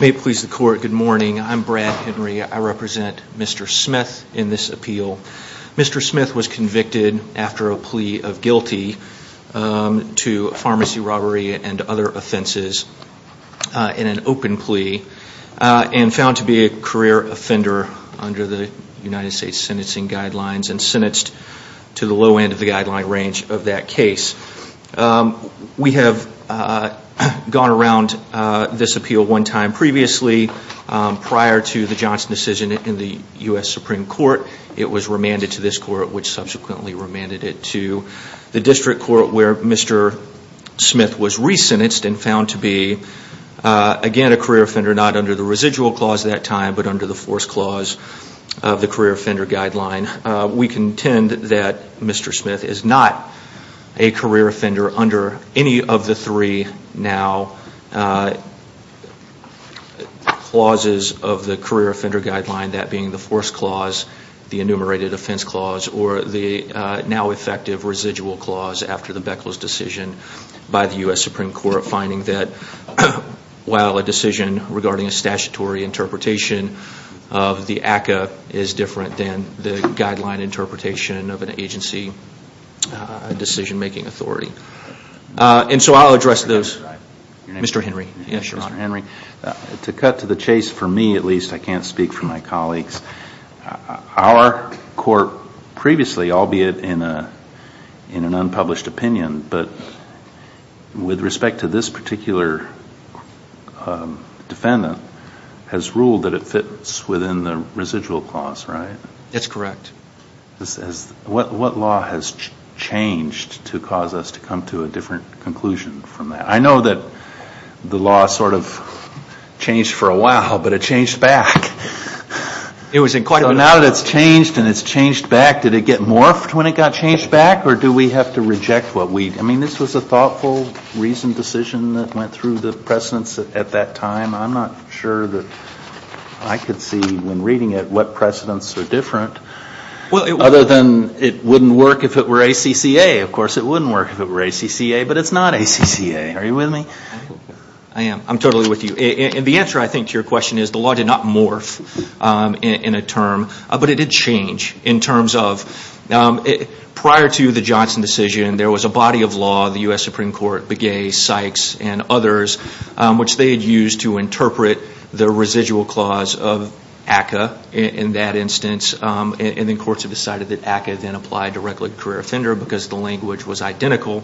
May it please the court, good morning. I'm Brad Henry. I represent Mr. Smith in this appeal. Mr. Smith was convicted after a plea of guilty to pharmacy robbery and other offenses in an open plea and found to be a career offender under the United States sentencing guidelines and sentenced to the low end of the guideline range of that case. We have gone around this appeal one time previously prior to the Johnson decision in the U.S. Supreme Court. It was remanded to this court which subsequently remanded it to the district court where Mr. Smith was re-sentenced and found to be again a career offender not under the residual clause that time but under the force clause of the career offender guideline. We contend that Mr. Smith is not a career offender under any of the three now clauses of the career offender guideline that being the force clause, the enumerated offense clause or the now effective residual clause after the Beckler's decision by the U.S. Supreme Court finding that while a decision regarding a statutory interpretation of the ACA is different than the guideline interpretation of an agency decision making authority. And so I'll address those. Mr. Henry. Yes, Your Honor. Mr. Henry. To cut to the chase for me at least, I can't speak for my colleagues, our court previously albeit in an unpublished opinion but with respect to this particular defendant has ruled that it fits within the residual clause, right? That's correct. What law has changed to cause us to come to a different conclusion from that? I know that the law sort of changed for a while but it changed back. It was in quite a while. Now that it's changed and it's changed back, did it get morphed when it got changed back or do we have to reject what we, I mean this was a thoughtful reasoned decision that went through the precedents at that time. I'm not sure that I could see when reading it what precedents are different other than it wouldn't work if it were ACCA. Of course it wouldn't work if it were ACCA but it's not ACCA. Are you with me? I am. I'm totally with you. And the answer I think to your question is the law did not morph in a term but it did change in terms of prior to the Johnson decision there was a body of law, the U.S. Supreme which they had used to interpret the residual clause of ACCA in that instance and then courts have decided that ACCA then applied directly to career offender because the language was identical.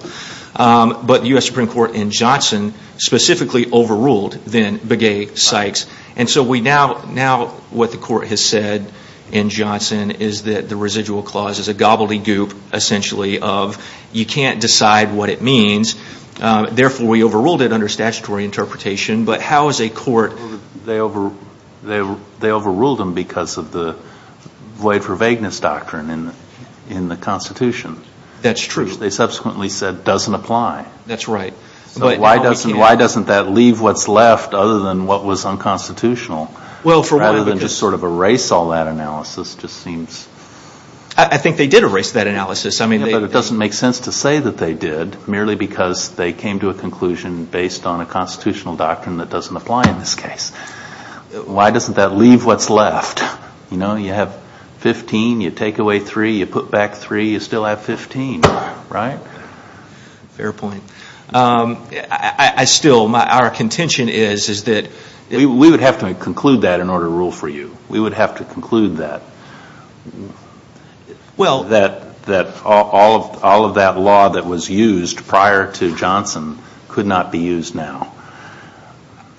But the U.S. Supreme Court in Johnson specifically overruled then Begay-Sykes. And so now what the court has said in Johnson is that the residual clause is a gobbledy but how is a court... They overruled them because of the void for vagueness doctrine in the Constitution. That's true. They subsequently said doesn't apply. That's right. So why doesn't that leave what's left other than what was unconstitutional rather than just sort of erase all that analysis just seems... I think they did erase that analysis. But it doesn't make sense to say that they did merely because they came to a conclusion based on a constitutional doctrine that doesn't apply in this case. Why doesn't that leave what's left? You know, you have 15, you take away 3, you put back 3, you still have 15, right? Fair point. Our contention is that... We would have to conclude that in order to rule for you. We would have to conclude that. Well... That all of that law that was used prior to Johnson could not be used now.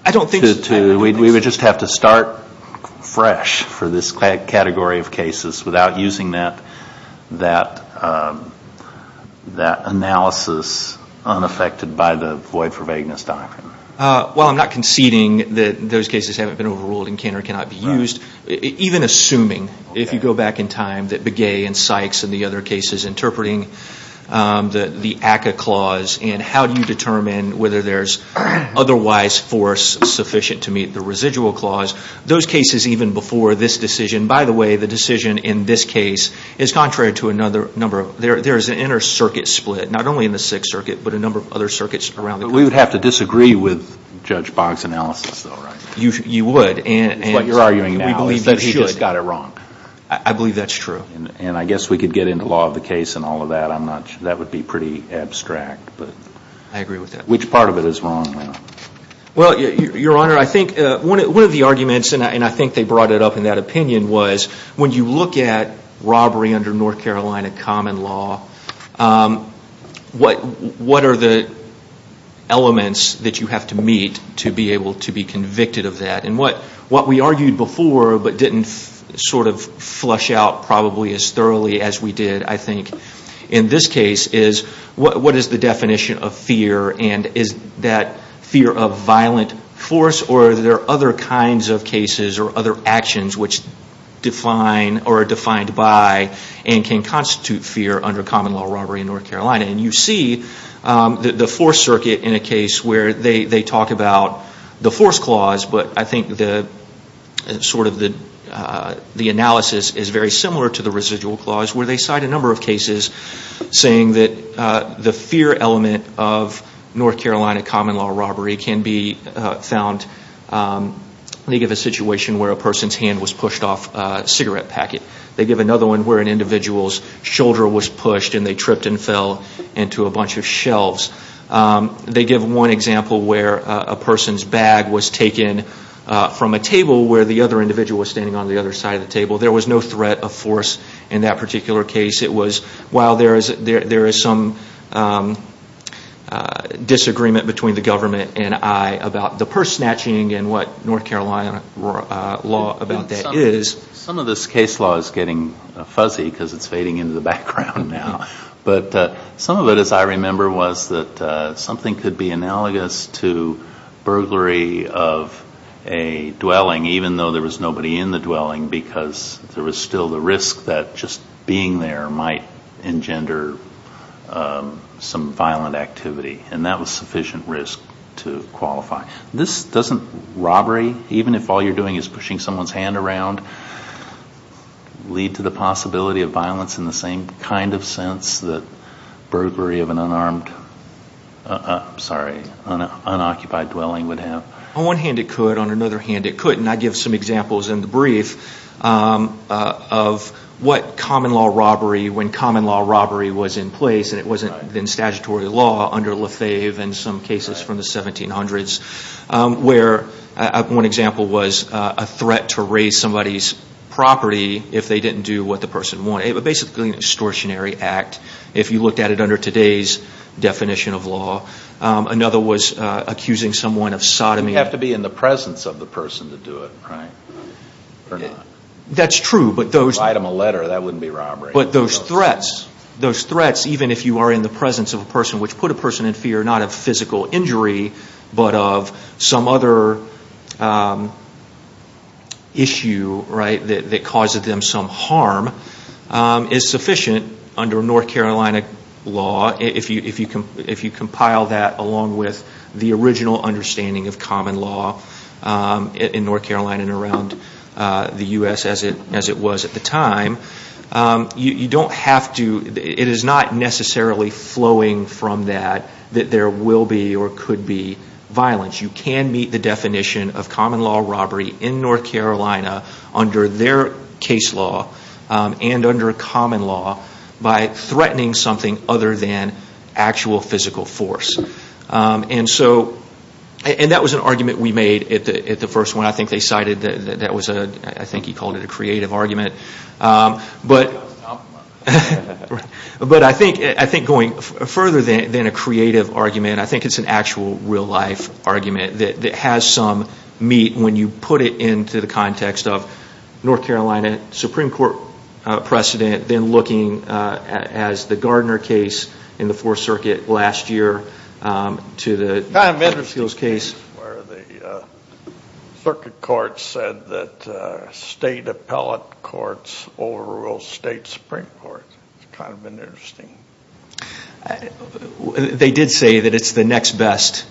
I don't think... We would just have to start fresh for this category of cases without using that analysis unaffected by the void for vagueness doctrine. Well, I'm not conceding that those cases haven't been overruled and can or cannot be used. Even assuming, if you go back in time, that Begay and Sykes and the other cases interpreting the ACCA clause and how do you determine whether there's otherwise force sufficient to meet the residual clause, those cases even before this decision... By the way, the decision in this case is contrary to another number of... There's an inner circuit split, not only in the Sixth Circuit, but a number of other circuits around the country. But we would have to disagree with Judge Boggs' analysis though, right? You would. What you're arguing now is that he just got it wrong. I believe that's true. And I guess we could get into law of the case and all of that. That would be pretty abstract, but... I agree with that. Which part of it is wrong? Well, Your Honor, I think one of the arguments, and I think they brought it up in that opinion, was when you look at robbery under North Carolina common law, what are the elements that you have to meet to be able to be convicted of that? What we argued before, but didn't flush out probably as thoroughly as we did, I think, in this case, is what is the definition of fear? And is that fear of violent force, or are there other kinds of cases or other actions which define or are defined by and can constitute fear under common law robbery in North Carolina? You see the Fourth Circuit in a case where they talk about the force clause, but I think the analysis is very similar to the residual clause, where they cite a number of cases saying that the fear element of North Carolina common law robbery can be found. They give a situation where a person's hand was pushed off a cigarette packet. They give another one where an individual's shoulder was pushed and they tripped and fell into a bunch of shelves. They give one example where a person's bag was taken from a table where the other individual was standing on the other side of the table. There was no threat of force in that particular case. It was while there is some disagreement between the government and I about the purse snatching and what North Carolina law about that is. Some of this case law is getting fuzzy because it's fading into the background now. But some of it, as I remember, was that something could be analogous to burglary of a dwelling even though there was nobody in the dwelling because there was still the risk that just being there might engender some violent activity and that was sufficient risk to qualify. This doesn't robbery, even if all you're doing is pushing someone's hand around, lead to the possibility of violence in the same kind of sense that burglary of an unoccupied dwelling would have. On one hand, it could. On another hand, it couldn't. I give some examples in the brief of what common law robbery, when common law robbery was in place and it wasn't in statutory law under Lefebvre and some cases from the 1700s where, one example was a threat to raise somebody's property if they didn't do what the person wanted. It was basically an extortionary act if you looked at it under today's definition of law. Another was accusing someone of sodomy. You have to be in the presence of the person to do it, right? That's true. If you write them a letter, that wouldn't be robbery. But those threats, those threats, even if you are in the presence of a person which put a person in fear, not of physical injury, but of some other issue that caused them some harm, is sufficient under North Carolina law if you compile that along with the original understanding of common law in North Carolina and around the U.S. as it was at the time. You don't have to, it is not necessarily flowing from that that there will be or could be violence. You can meet the definition of common law robbery in North Carolina under their case law and under common law by threatening something other than actual physical force. So, and that was an argument we made at the first one. I think they cited that was a, I think he called it a creative argument. But I think going further than a creative argument, I think it's an actual real life argument that has some meat when you put it into the context of North Carolina Supreme Court precedent, then looking as the Gardner case in the Fourth Circuit last year to the Gardner case where the circuit court said that state appellate courts overruled state Supreme Court. It's kind of been interesting. They did say that it's the next best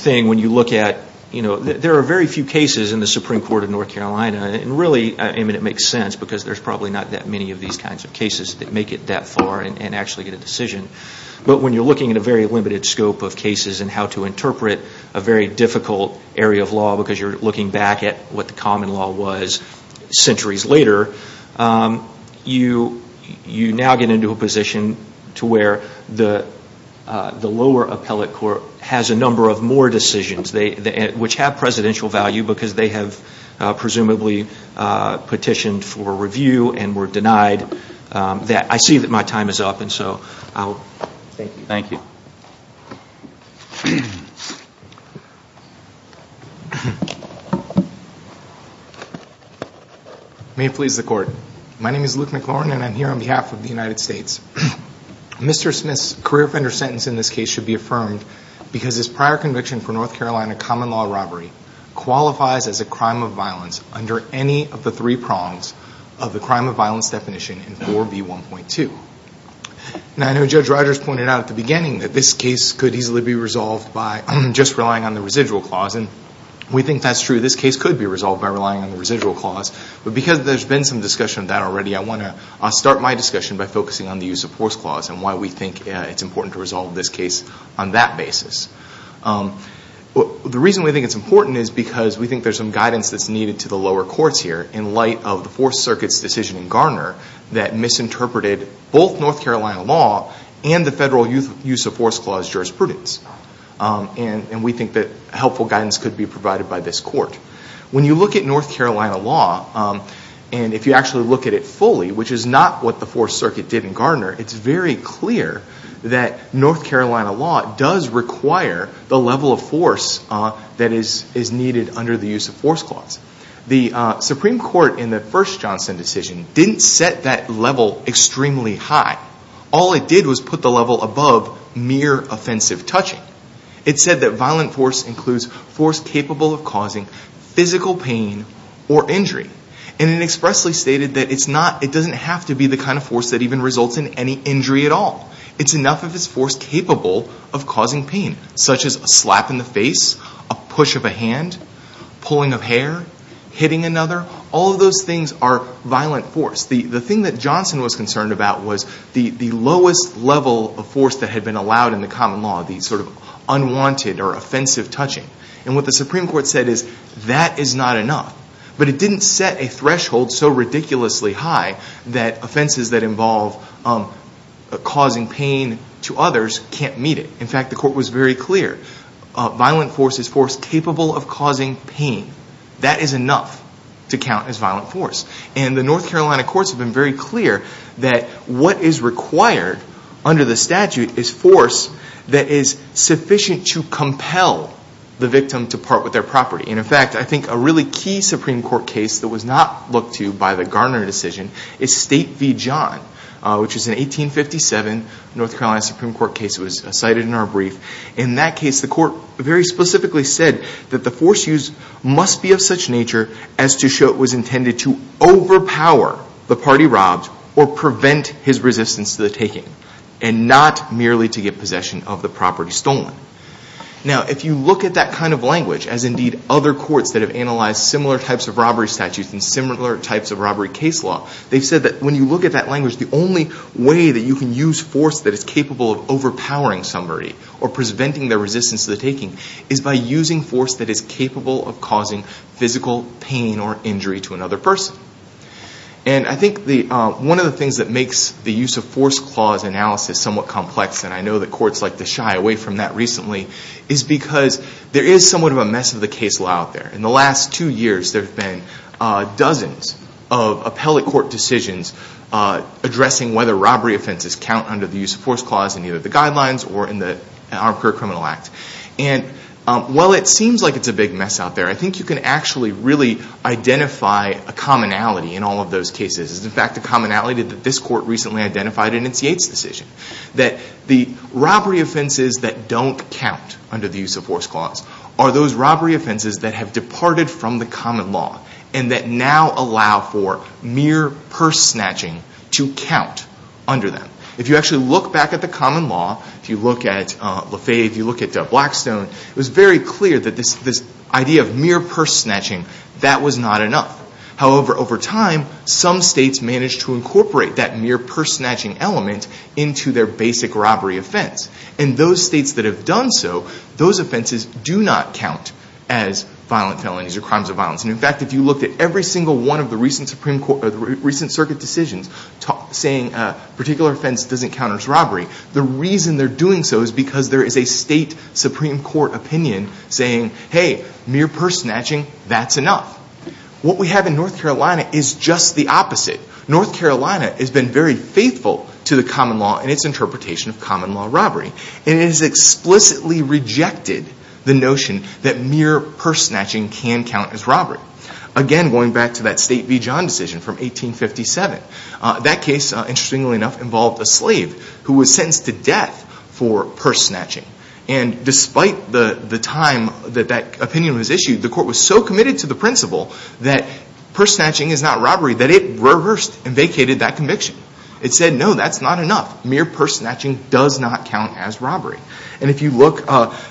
thing when you look at, you know, there are very few cases in the Supreme Court of North Carolina and really, I mean it makes sense because there's probably not that many of these kinds of cases that make it that far and actually get a decision. But when you're looking at a very limited scope of cases and how to interpret a very difficult area of law because you're looking back at what the common law was centuries later, you now get into a position to where the lower appellate court has a number of more decisions which have presidential value because they have presumably petitioned for a lot of things. So I'll... Thank you. May it please the court. My name is Luke McLaurin and I'm here on behalf of the United States. Mr. Smith's career offender sentence in this case should be affirmed because his prior conviction for North Carolina common law robbery qualifies as a crime of violence under any of the three prongs of the crime of violence definition in 4B1.2. Now I know Judge Rogers pointed out at the beginning that this case could easily be resolved by just relying on the residual clause and we think that's true. This case could be resolved by relying on the residual clause. But because there's been some discussion of that already, I want to start my discussion by focusing on the use of force clause and why we think it's important to resolve this case on that basis. The reason we think it's important is because we think there's some guidance that's needed to the lower courts here in light of the Fourth Circuit's decision in Garner that misinterpreted both North Carolina law and the federal use of force clause jurisprudence. And we think that helpful guidance could be provided by this court. When you look at North Carolina law, and if you actually look at it fully, which is not what the Fourth Circuit did in Garner, it's very clear that North Carolina law does require the level of force that is needed under the use of force clause. The Supreme Court in the first Johnson decision didn't set that level extremely high. All it did was put the level above mere offensive touching. It said that violent force includes force capable of causing physical pain or injury. And it expressly stated that it doesn't have to be the kind of force that even results in any injury at all. It's enough if it's force capable of causing pain, such as a slap in the face, a push of a hand, pulling of hair, hitting another. All of those things are violent force. The thing that Johnson was concerned about was the lowest level of force that had been allowed in the common law, the sort of unwanted or offensive touching. And what the Supreme Court said is that is not enough. But it didn't set a threshold so ridiculously high that causing pain to others can't meet it. In fact, the court was very clear. Violent force is force capable of causing pain. That is enough to count as violent force. And the North Carolina courts have been very clear that what is required under the statute is force that is sufficient to compel the victim to part with their property. In fact, I think a really key Supreme Court case that was not looked to by the Garner decision is State v. John, which is an 1857 North Carolina Supreme Court case that was cited in our brief. In that case, the court very specifically said that the force used must be of such nature as to show it was intended to overpower the party robbed or prevent his resistance to the taking and not merely to get possession of the property stolen. Now, if you look at that kind of language, as indeed other courts that have analyzed similar types of robbery statutes and similar types of robbery case law, they've said that when you look at that language, the only way that you can use force that is capable of overpowering somebody or preventing their resistance to the taking is by using force that is capable of causing physical pain or injury to another person. And I think one of the things that makes the use of force clause analysis somewhat complex, and I know that courts like to shy away from that recently, is because there is somewhat of a mess of the case law out there. In the last two years, there have been dozens of addressing whether robbery offenses count under the use of force clause in either the guidelines or in the Armed Career Criminal Act. And while it seems like it's a big mess out there, I think you can actually really identify a commonality in all of those cases. It's in fact a commonality that this court recently identified in its Yates decision, that the robbery offenses that don't count under the use of force clause are those robbery offenses that do count under them. If you actually look back at the common law, if you look at Lafayette, if you look at Blackstone, it was very clear that this idea of mere purse snatching, that was not enough. However, over time, some states managed to incorporate that mere purse snatching element into their basic robbery offense. And those states that have done so, those offenses do not count as violent felonies or crimes of violence. In fact, if you look at every single one of the recent circuit decisions saying a particular offense doesn't count as robbery, the reason they're doing so is because there is a state Supreme Court opinion saying, hey, mere purse snatching, that's enough. What we have in North Carolina is just the opposite. North Carolina has been very faithful to the common law and its interpretation of common law robbery. And it has explicitly rejected the notion that mere purse snatching can count as robbery. Again, going back to that State v. John decision from 1857, that case, interestingly enough, involved a slave who was sentenced to death for purse snatching. And despite the time that that opinion was issued, the court was so committed to the principle that purse snatching is not robbery that it rehearsed and vacated that conviction. It said, no, that's not enough. Mere purse snatching does not count as robbery. And if you look,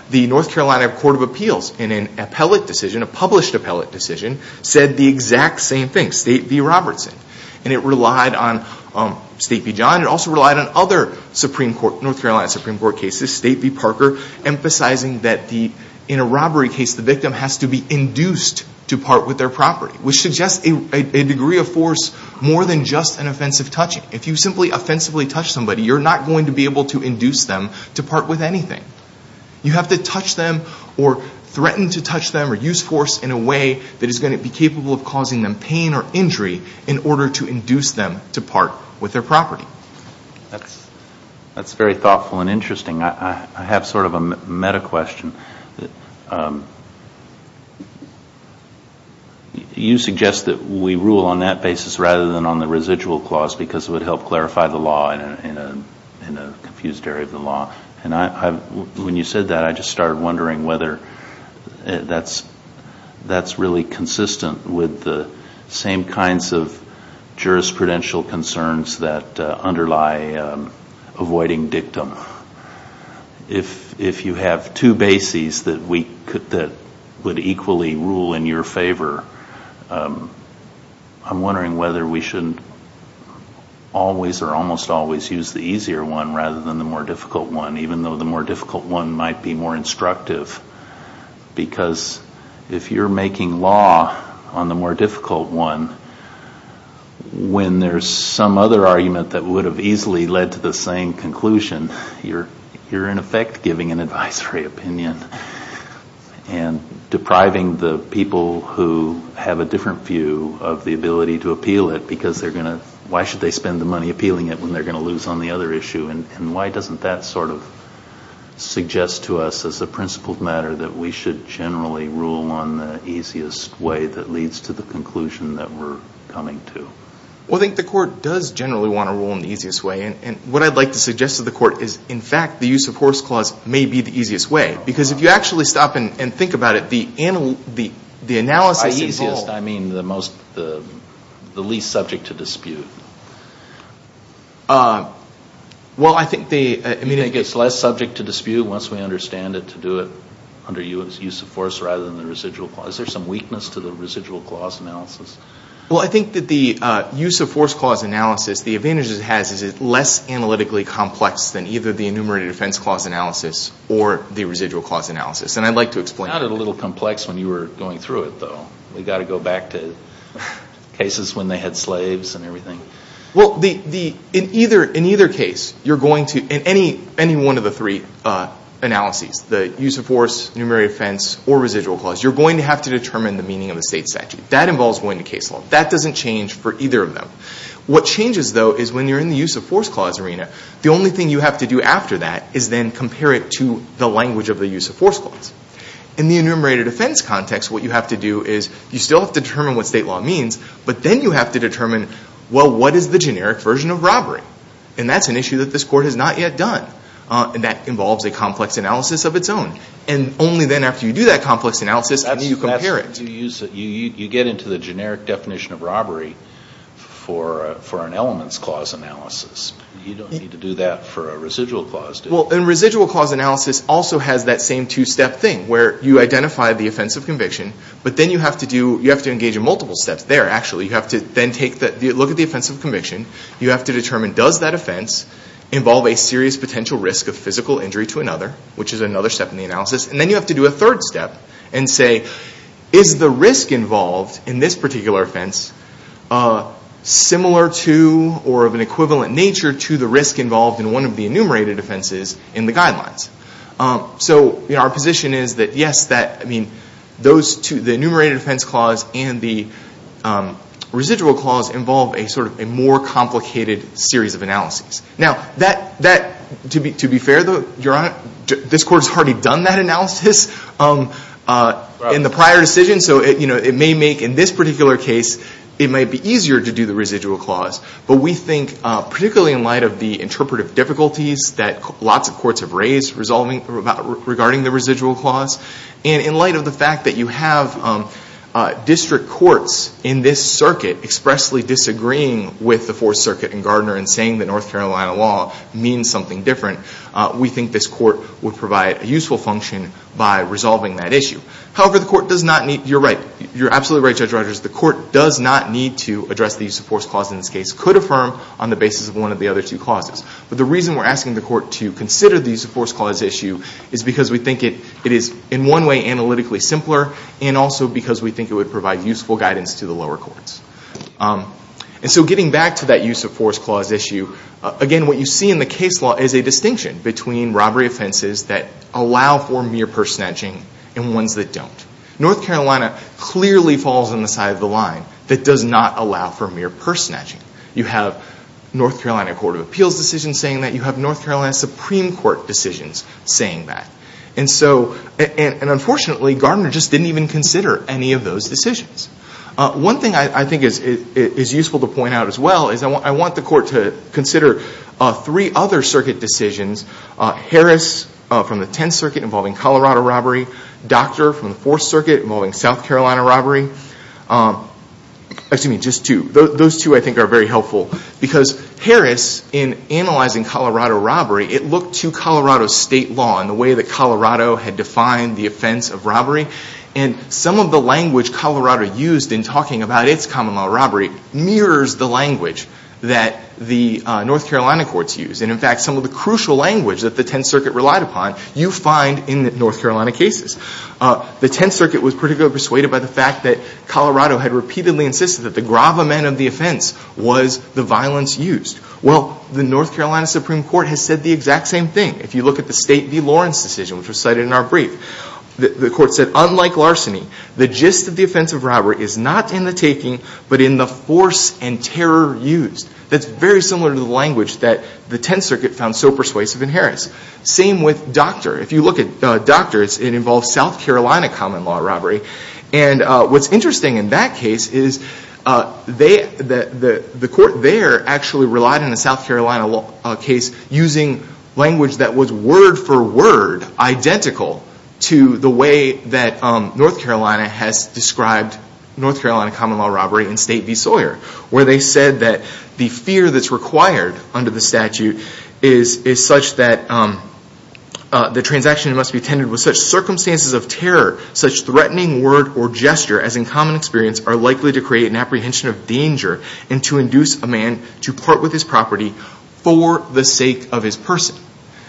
the North Carolina Court of Appeals, in an appellate decision, a published appellate decision, said the exact same thing, State v. Robertson. And it relied on State v. John. It also relied on other North Carolina Supreme Court cases, State v. Parker, emphasizing that in a robbery case, the victim has to be induced to part with their property, which suggests a degree of force more than just an offensive touching. If you simply offensively touch somebody, you're not going to be able to induce them to part with anything. You have to touch them or threaten to touch them or use force in a way that is going to be capable of causing them pain or injury in order to induce them to part with their property. That's very thoughtful and interesting. I have sort of a meta question. You suggest that we rule on that basis rather than on the residual clause because it would help clarify the law in a confused area of the law. And when you said that, I just started wondering whether that's really consistent with the same kinds of jurisprudential concerns that underlie avoiding dictum. Now, if you have two bases that would equally rule in your favor, I'm wondering whether we should always or almost always use the easier one rather than the more difficult one, even though the more difficult one might be more instructive because if you're making law on the more difficult one, when there's some other argument that would have easily led to the same conclusion, you're in effect giving an advisory opinion and depriving the people who have a different view of the ability to appeal it because why should they spend the money appealing it when they're going to lose on the other issue? And why doesn't that sort of suggest to us as a principled matter that we should generally rule on the easiest way that leads to the conclusion that we're coming to? Well, I think the court does generally want to rule in the easiest way. And what I'd like to suggest to the court is, in fact, the use of force clause may be the easiest way because if you actually stop and think about it, the analysis involved By easiest, I mean the least subject to dispute. Well, I think the You think it's less subject to dispute once we understand it to do it under use of force rather than the residual clause. Is there some weakness to the residual clause analysis? Well, I think that the use of force clause analysis, the advantage it has is it's less analytically complex than either the enumerated offense clause analysis or the residual clause analysis. And I'd like to explain It sounded a little complex when you were going through it, though. We've got to go back to cases when they had slaves and everything. Well, in either case, you're going to, in any one of the three analyses, the use of force, enumerated offense, or residual clause, you're going to have to determine the meaning of the state statute. That involves going to case law. That doesn't change for either of them. What changes, though, is when you're in the use of force clause arena, the only thing you have to do after that is then compare it to the language of the use of force clause. In the enumerated offense context, what you have to do is you still have to determine what state law means, but then you have to determine, well, what is the generic version of robbery? And that's an issue that this court has not yet done. And that involves a complex analysis of its own. And only then, after you do that complex analysis, can you compare it. You get into the generic definition of robbery for an elements clause analysis. You don't need to do that for a residual clause, do you? Well, a residual clause analysis also has that same two-step thing, where you identify the offense of conviction, but then you have to engage in multiple steps there, actually. You have to then look at the offense of conviction. You have to determine, does that offense involve a serious potential risk of physical injury to another, which is another step in the analysis? And then you have to do a third step and say, is the risk involved in this particular offense similar to or of an equivalent nature to the risk involved in one of the enumerated offenses in the guidelines? So our position is that, yes, the enumerated offense clause and the residual clause involve a more complicated series of analyses. Now, to be fair, though, Your Honor, this Court's already done that analysis in the prior decision. So it may make, in this particular case, it might be easier to do the residual clause. But we think, particularly in light of the interpretive difficulties that lots of courts have raised regarding the residual clause, and in light of the fact that you have district courts in this circuit expressly disagreeing with the Fourth Circuit and Gardner in saying that North Carolina law means something different, we think this Court would provide a useful function by resolving that issue. However, the Court does not need, you're right, you're absolutely right, Judge Rogers, the Court does not need to address the use of force clause in this case, could affirm on the basis of one of the other two clauses. But the reason we're asking the Court to consider the use of force clause issue is because we think it is, in one way, analytically simpler, and also because we think it would provide useful guidance to the lower courts. And so getting back to that use of force clause issue, again, what you see in the case law is a distinction between robbery offenses that allow for mere purse snatching and ones that don't. North Carolina clearly falls on the side of the line that does not allow for mere purse snatching. You have North Carolina Court of Appeals decisions saying that. You have North Carolina Supreme Court decisions saying that. And so, and unfortunately, Gardner just didn't even consider any of those decisions. One thing I think is useful to point out as well is I want the Court to consider three other circuit decisions, Harris from the Tenth Circuit involving Colorado robbery, Doctor from the Fourth Circuit involving South Carolina robbery, excuse me, just two. Those two, I think, are very helpful because Harris, in analyzing Colorado robbery, it looked to Colorado state law and the way that Colorado had defined the offense of robbery. And some of the language Colorado used in talking about its common law robbery mirrors the language that the North Carolina courts use. And in fact, some of the crucial language that the Tenth Circuit relied upon, you find in the North Carolina cases. The Tenth Circuit was particularly persuaded by the fact that Colorado had repeatedly insisted that the gravamen of the offense was the violence used. Well, the North Carolina Supreme Court has said the exact same thing. If you look at the State v. Lawrence decision, which was cited in our brief, the Court said, unlike larceny, the gist of the offense of robbery is not in the taking, but in the force and terror used. That's very similar to the language that the Tenth Circuit found so persuasive in Harris. Same with Doctor. If you look at Doctor, it involves South Carolina common law robbery. And what's interesting in that case is the Court there actually relied on the South Carolina case using language that was word for word identical to the way that North Carolina has described North Carolina common law robbery in State v. Sawyer. Where they said that the fear that's required under the statute is such that the transaction must be attended with such circumstances of terror, such threatening word or gesture as in common experience are likely to create an apprehension of danger and to induce a property for the sake of his person.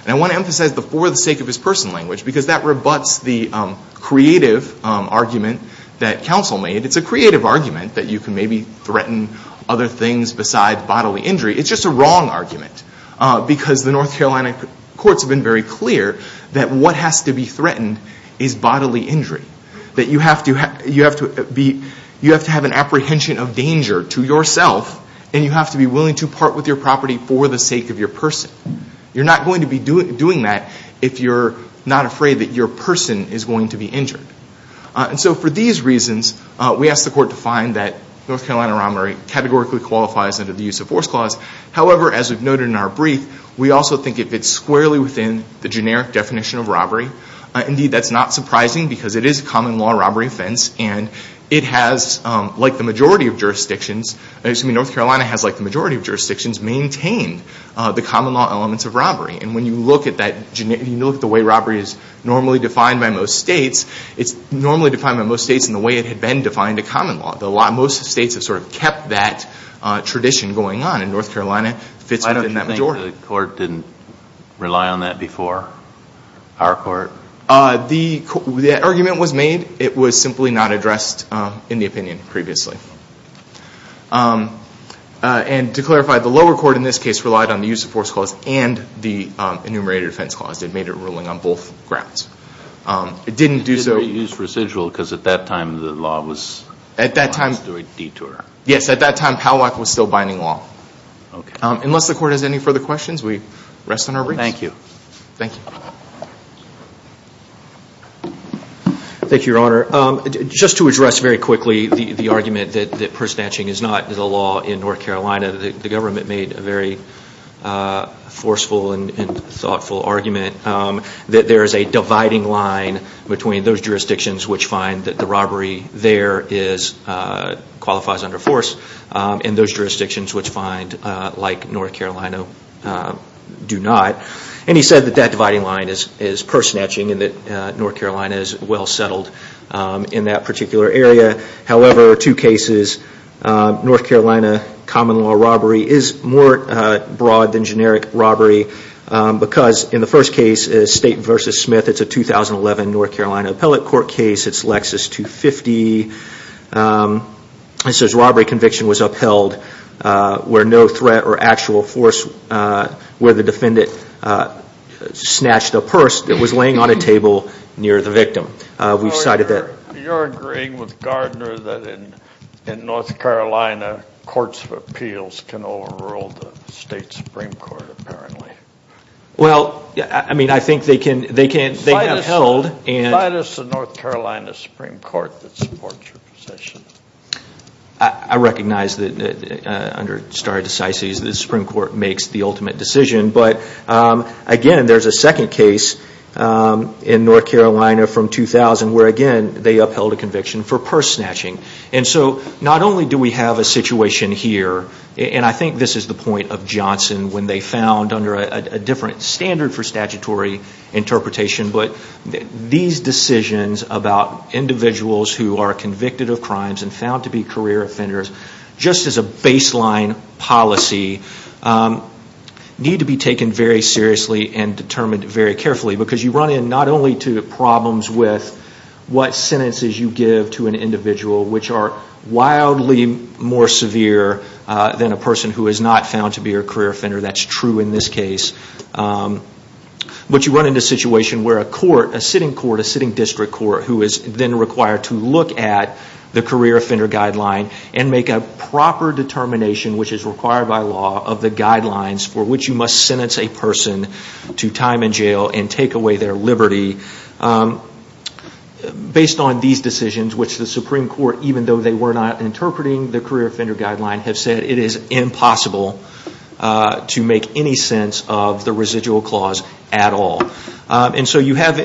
And I want to emphasize the for the sake of his person language, because that rebutts the creative argument that counsel made. It's a creative argument that you can maybe threaten other things besides bodily injury. It's just a wrong argument, because the North Carolina courts have been very clear that what has to be threatened is bodily injury. That you have to have an apprehension of danger to yourself, and you have to be willing to threaten your property for the sake of your person. You're not going to be doing that if you're not afraid that your person is going to be injured. And so for these reasons, we ask the Court to find that North Carolina robbery categorically qualifies under the use of force clause. However, as we've noted in our brief, we also think it fits squarely within the generic definition of robbery. Indeed, that's not surprising, because it is a common law robbery offense, and it has like the majority of jurisdictions, excuse me, North Carolina has like the majority of jurisdictions maintained the common law elements of robbery. And when you look at that generic, when you look at the way robbery is normally defined by most states, it's normally defined by most states in the way it had been defined a common law. Most states have sort of kept that tradition going on, and North Carolina fits within that majority. Why don't you think the Court didn't rely on that before our Court? The argument was made. It was simply not addressed in the opinion previously. And to clarify, the lower court in this case relied on the use of force clause and the enumerated offense clause. It made it ruling on both grounds. It didn't do so... It didn't use residual, because at that time the law was... At that time... ...doing detour. Yes, at that time, POWOC was still binding law. Unless the Court has any further questions, we rest on our briefs. Thank you. Thank you, Your Honor. Just to address very quickly the argument that purse snatching is not the law in North Carolina. The government made a very forceful and thoughtful argument that there is a dividing line between those jurisdictions which find that the robbery there qualifies under force and those jurisdictions which find, like North Carolina, do not. And he said that that dividing line is purse snatching and that North Carolina is well settled in that particular area. However, two cases, North Carolina common law robbery is more broad than generic robbery because in the first case, State v. Smith, it's a 2011 North Carolina appellate court case. It's Lexus 250. It says robbery conviction was upheld where no threat or actual force where the defendant snatched a purse that was laying on a table near the victim. We've cited that... You're agreeing with Gardner that in North Carolina, courts of appeals can overrule the State Supreme Court, apparently. Well, I mean, I think they can upheld and... I recognize that under stare decisis, the Supreme Court makes the ultimate decision, but again, there's a second case in North Carolina from 2000 where again, they upheld a conviction for purse snatching. And so, not only do we have a situation here, and I think this is the point of Johnson when they found under a different standard for statutory interpretation, but these decisions about individuals who are convicted of crimes and found to be career offenders, just as a baseline policy, need to be taken very seriously and determined very carefully because you run in not only to problems with what sentences you give to an individual, which are wildly more severe than a person who is not found to be a career offender, that's true in this court, who is then required to look at the career offender guideline and make a proper determination, which is required by law, of the guidelines for which you must sentence a person to time in jail and take away their liberty based on these decisions, which the Supreme Court, even though they were not interpreting the career offender guideline, have said it is impossible to make any sense of the residual clause at all. And so you have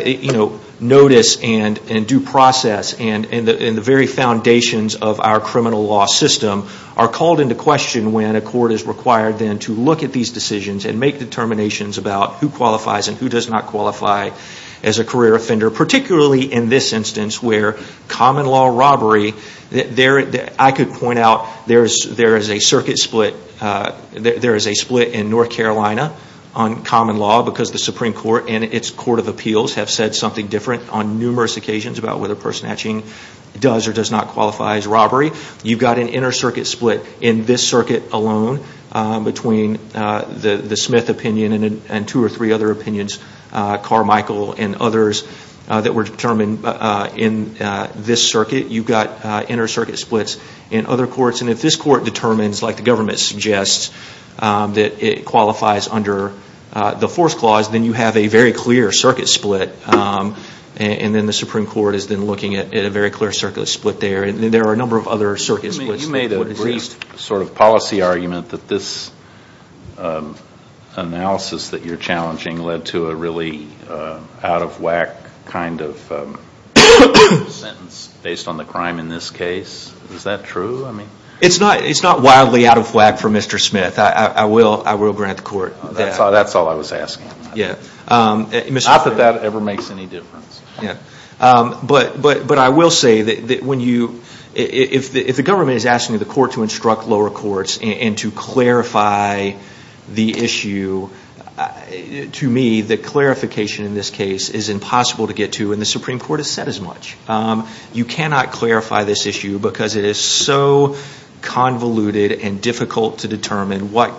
notice and due process and the very foundations of our criminal law system are called into question when a court is required then to look at these decisions and make determinations about who qualifies and who does not qualify as a career offender, particularly in this instance where common law robbery, I could point out there is a circuit split, there and its court of appeals have said something different on numerous occasions about whether person hatching does or does not qualify as robbery. You've got an inner circuit split in this circuit alone between the Smith opinion and two or three other opinions, Carmichael and others, that were determined in this circuit. You've got inner circuit splits in other courts and if this court determines like the government suggests that it qualifies under the fourth clause, then you have a very clear circuit split and then the Supreme Court is then looking at a very clear circuit split there and there are a number of other circuit splits. You made a brief sort of policy argument that this analysis that you're challenging led to a really out of whack kind of sentence based on the crime in this case, is that true? It's not wildly out of whack for Mr. Smith, I will grant the court that. That's all I was asking, not that that ever makes any difference. But I will say that if the government is asking the court to instruct lower courts and to clarify the issue, to me the clarification in this case is impossible to get to and the Supreme Court has said as much. You cannot clarify this issue because it is so convoluted and difficult to determine what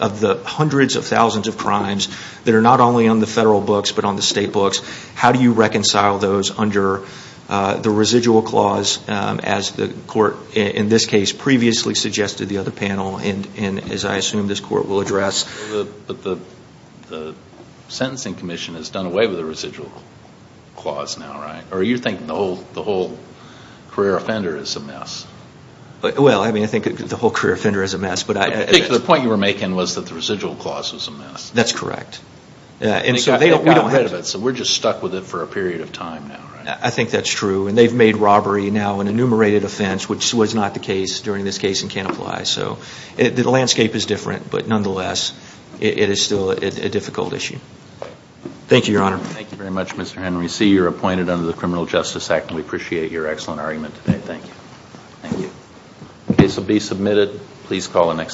of the hundreds of thousands of crimes that are not only on the federal books but on the state books, how do you reconcile those under the residual clause as the court in this case previously suggested the other panel and as I assume this court will address. The sentencing commission has done away with the residual clause now, right? Or you think the whole career offender is a mess? Well I mean I think the whole career offender is a mess. I think the point you were making was that the residual clause was a mess. That's correct. They got rid of it so we're just stuck with it for a period of time now, right? I think that's true and they've made robbery now an enumerated offense which was not the case during this case in Canaply so the landscape is different but nonetheless it is still a difficult issue. Thank you, Your Honor. Thank you very much, Mr. Henry. We see you're appointed under the Criminal Justice Act and we appreciate your excellent argument today. Thank you. Thank you. The case will be submitted. Please call the next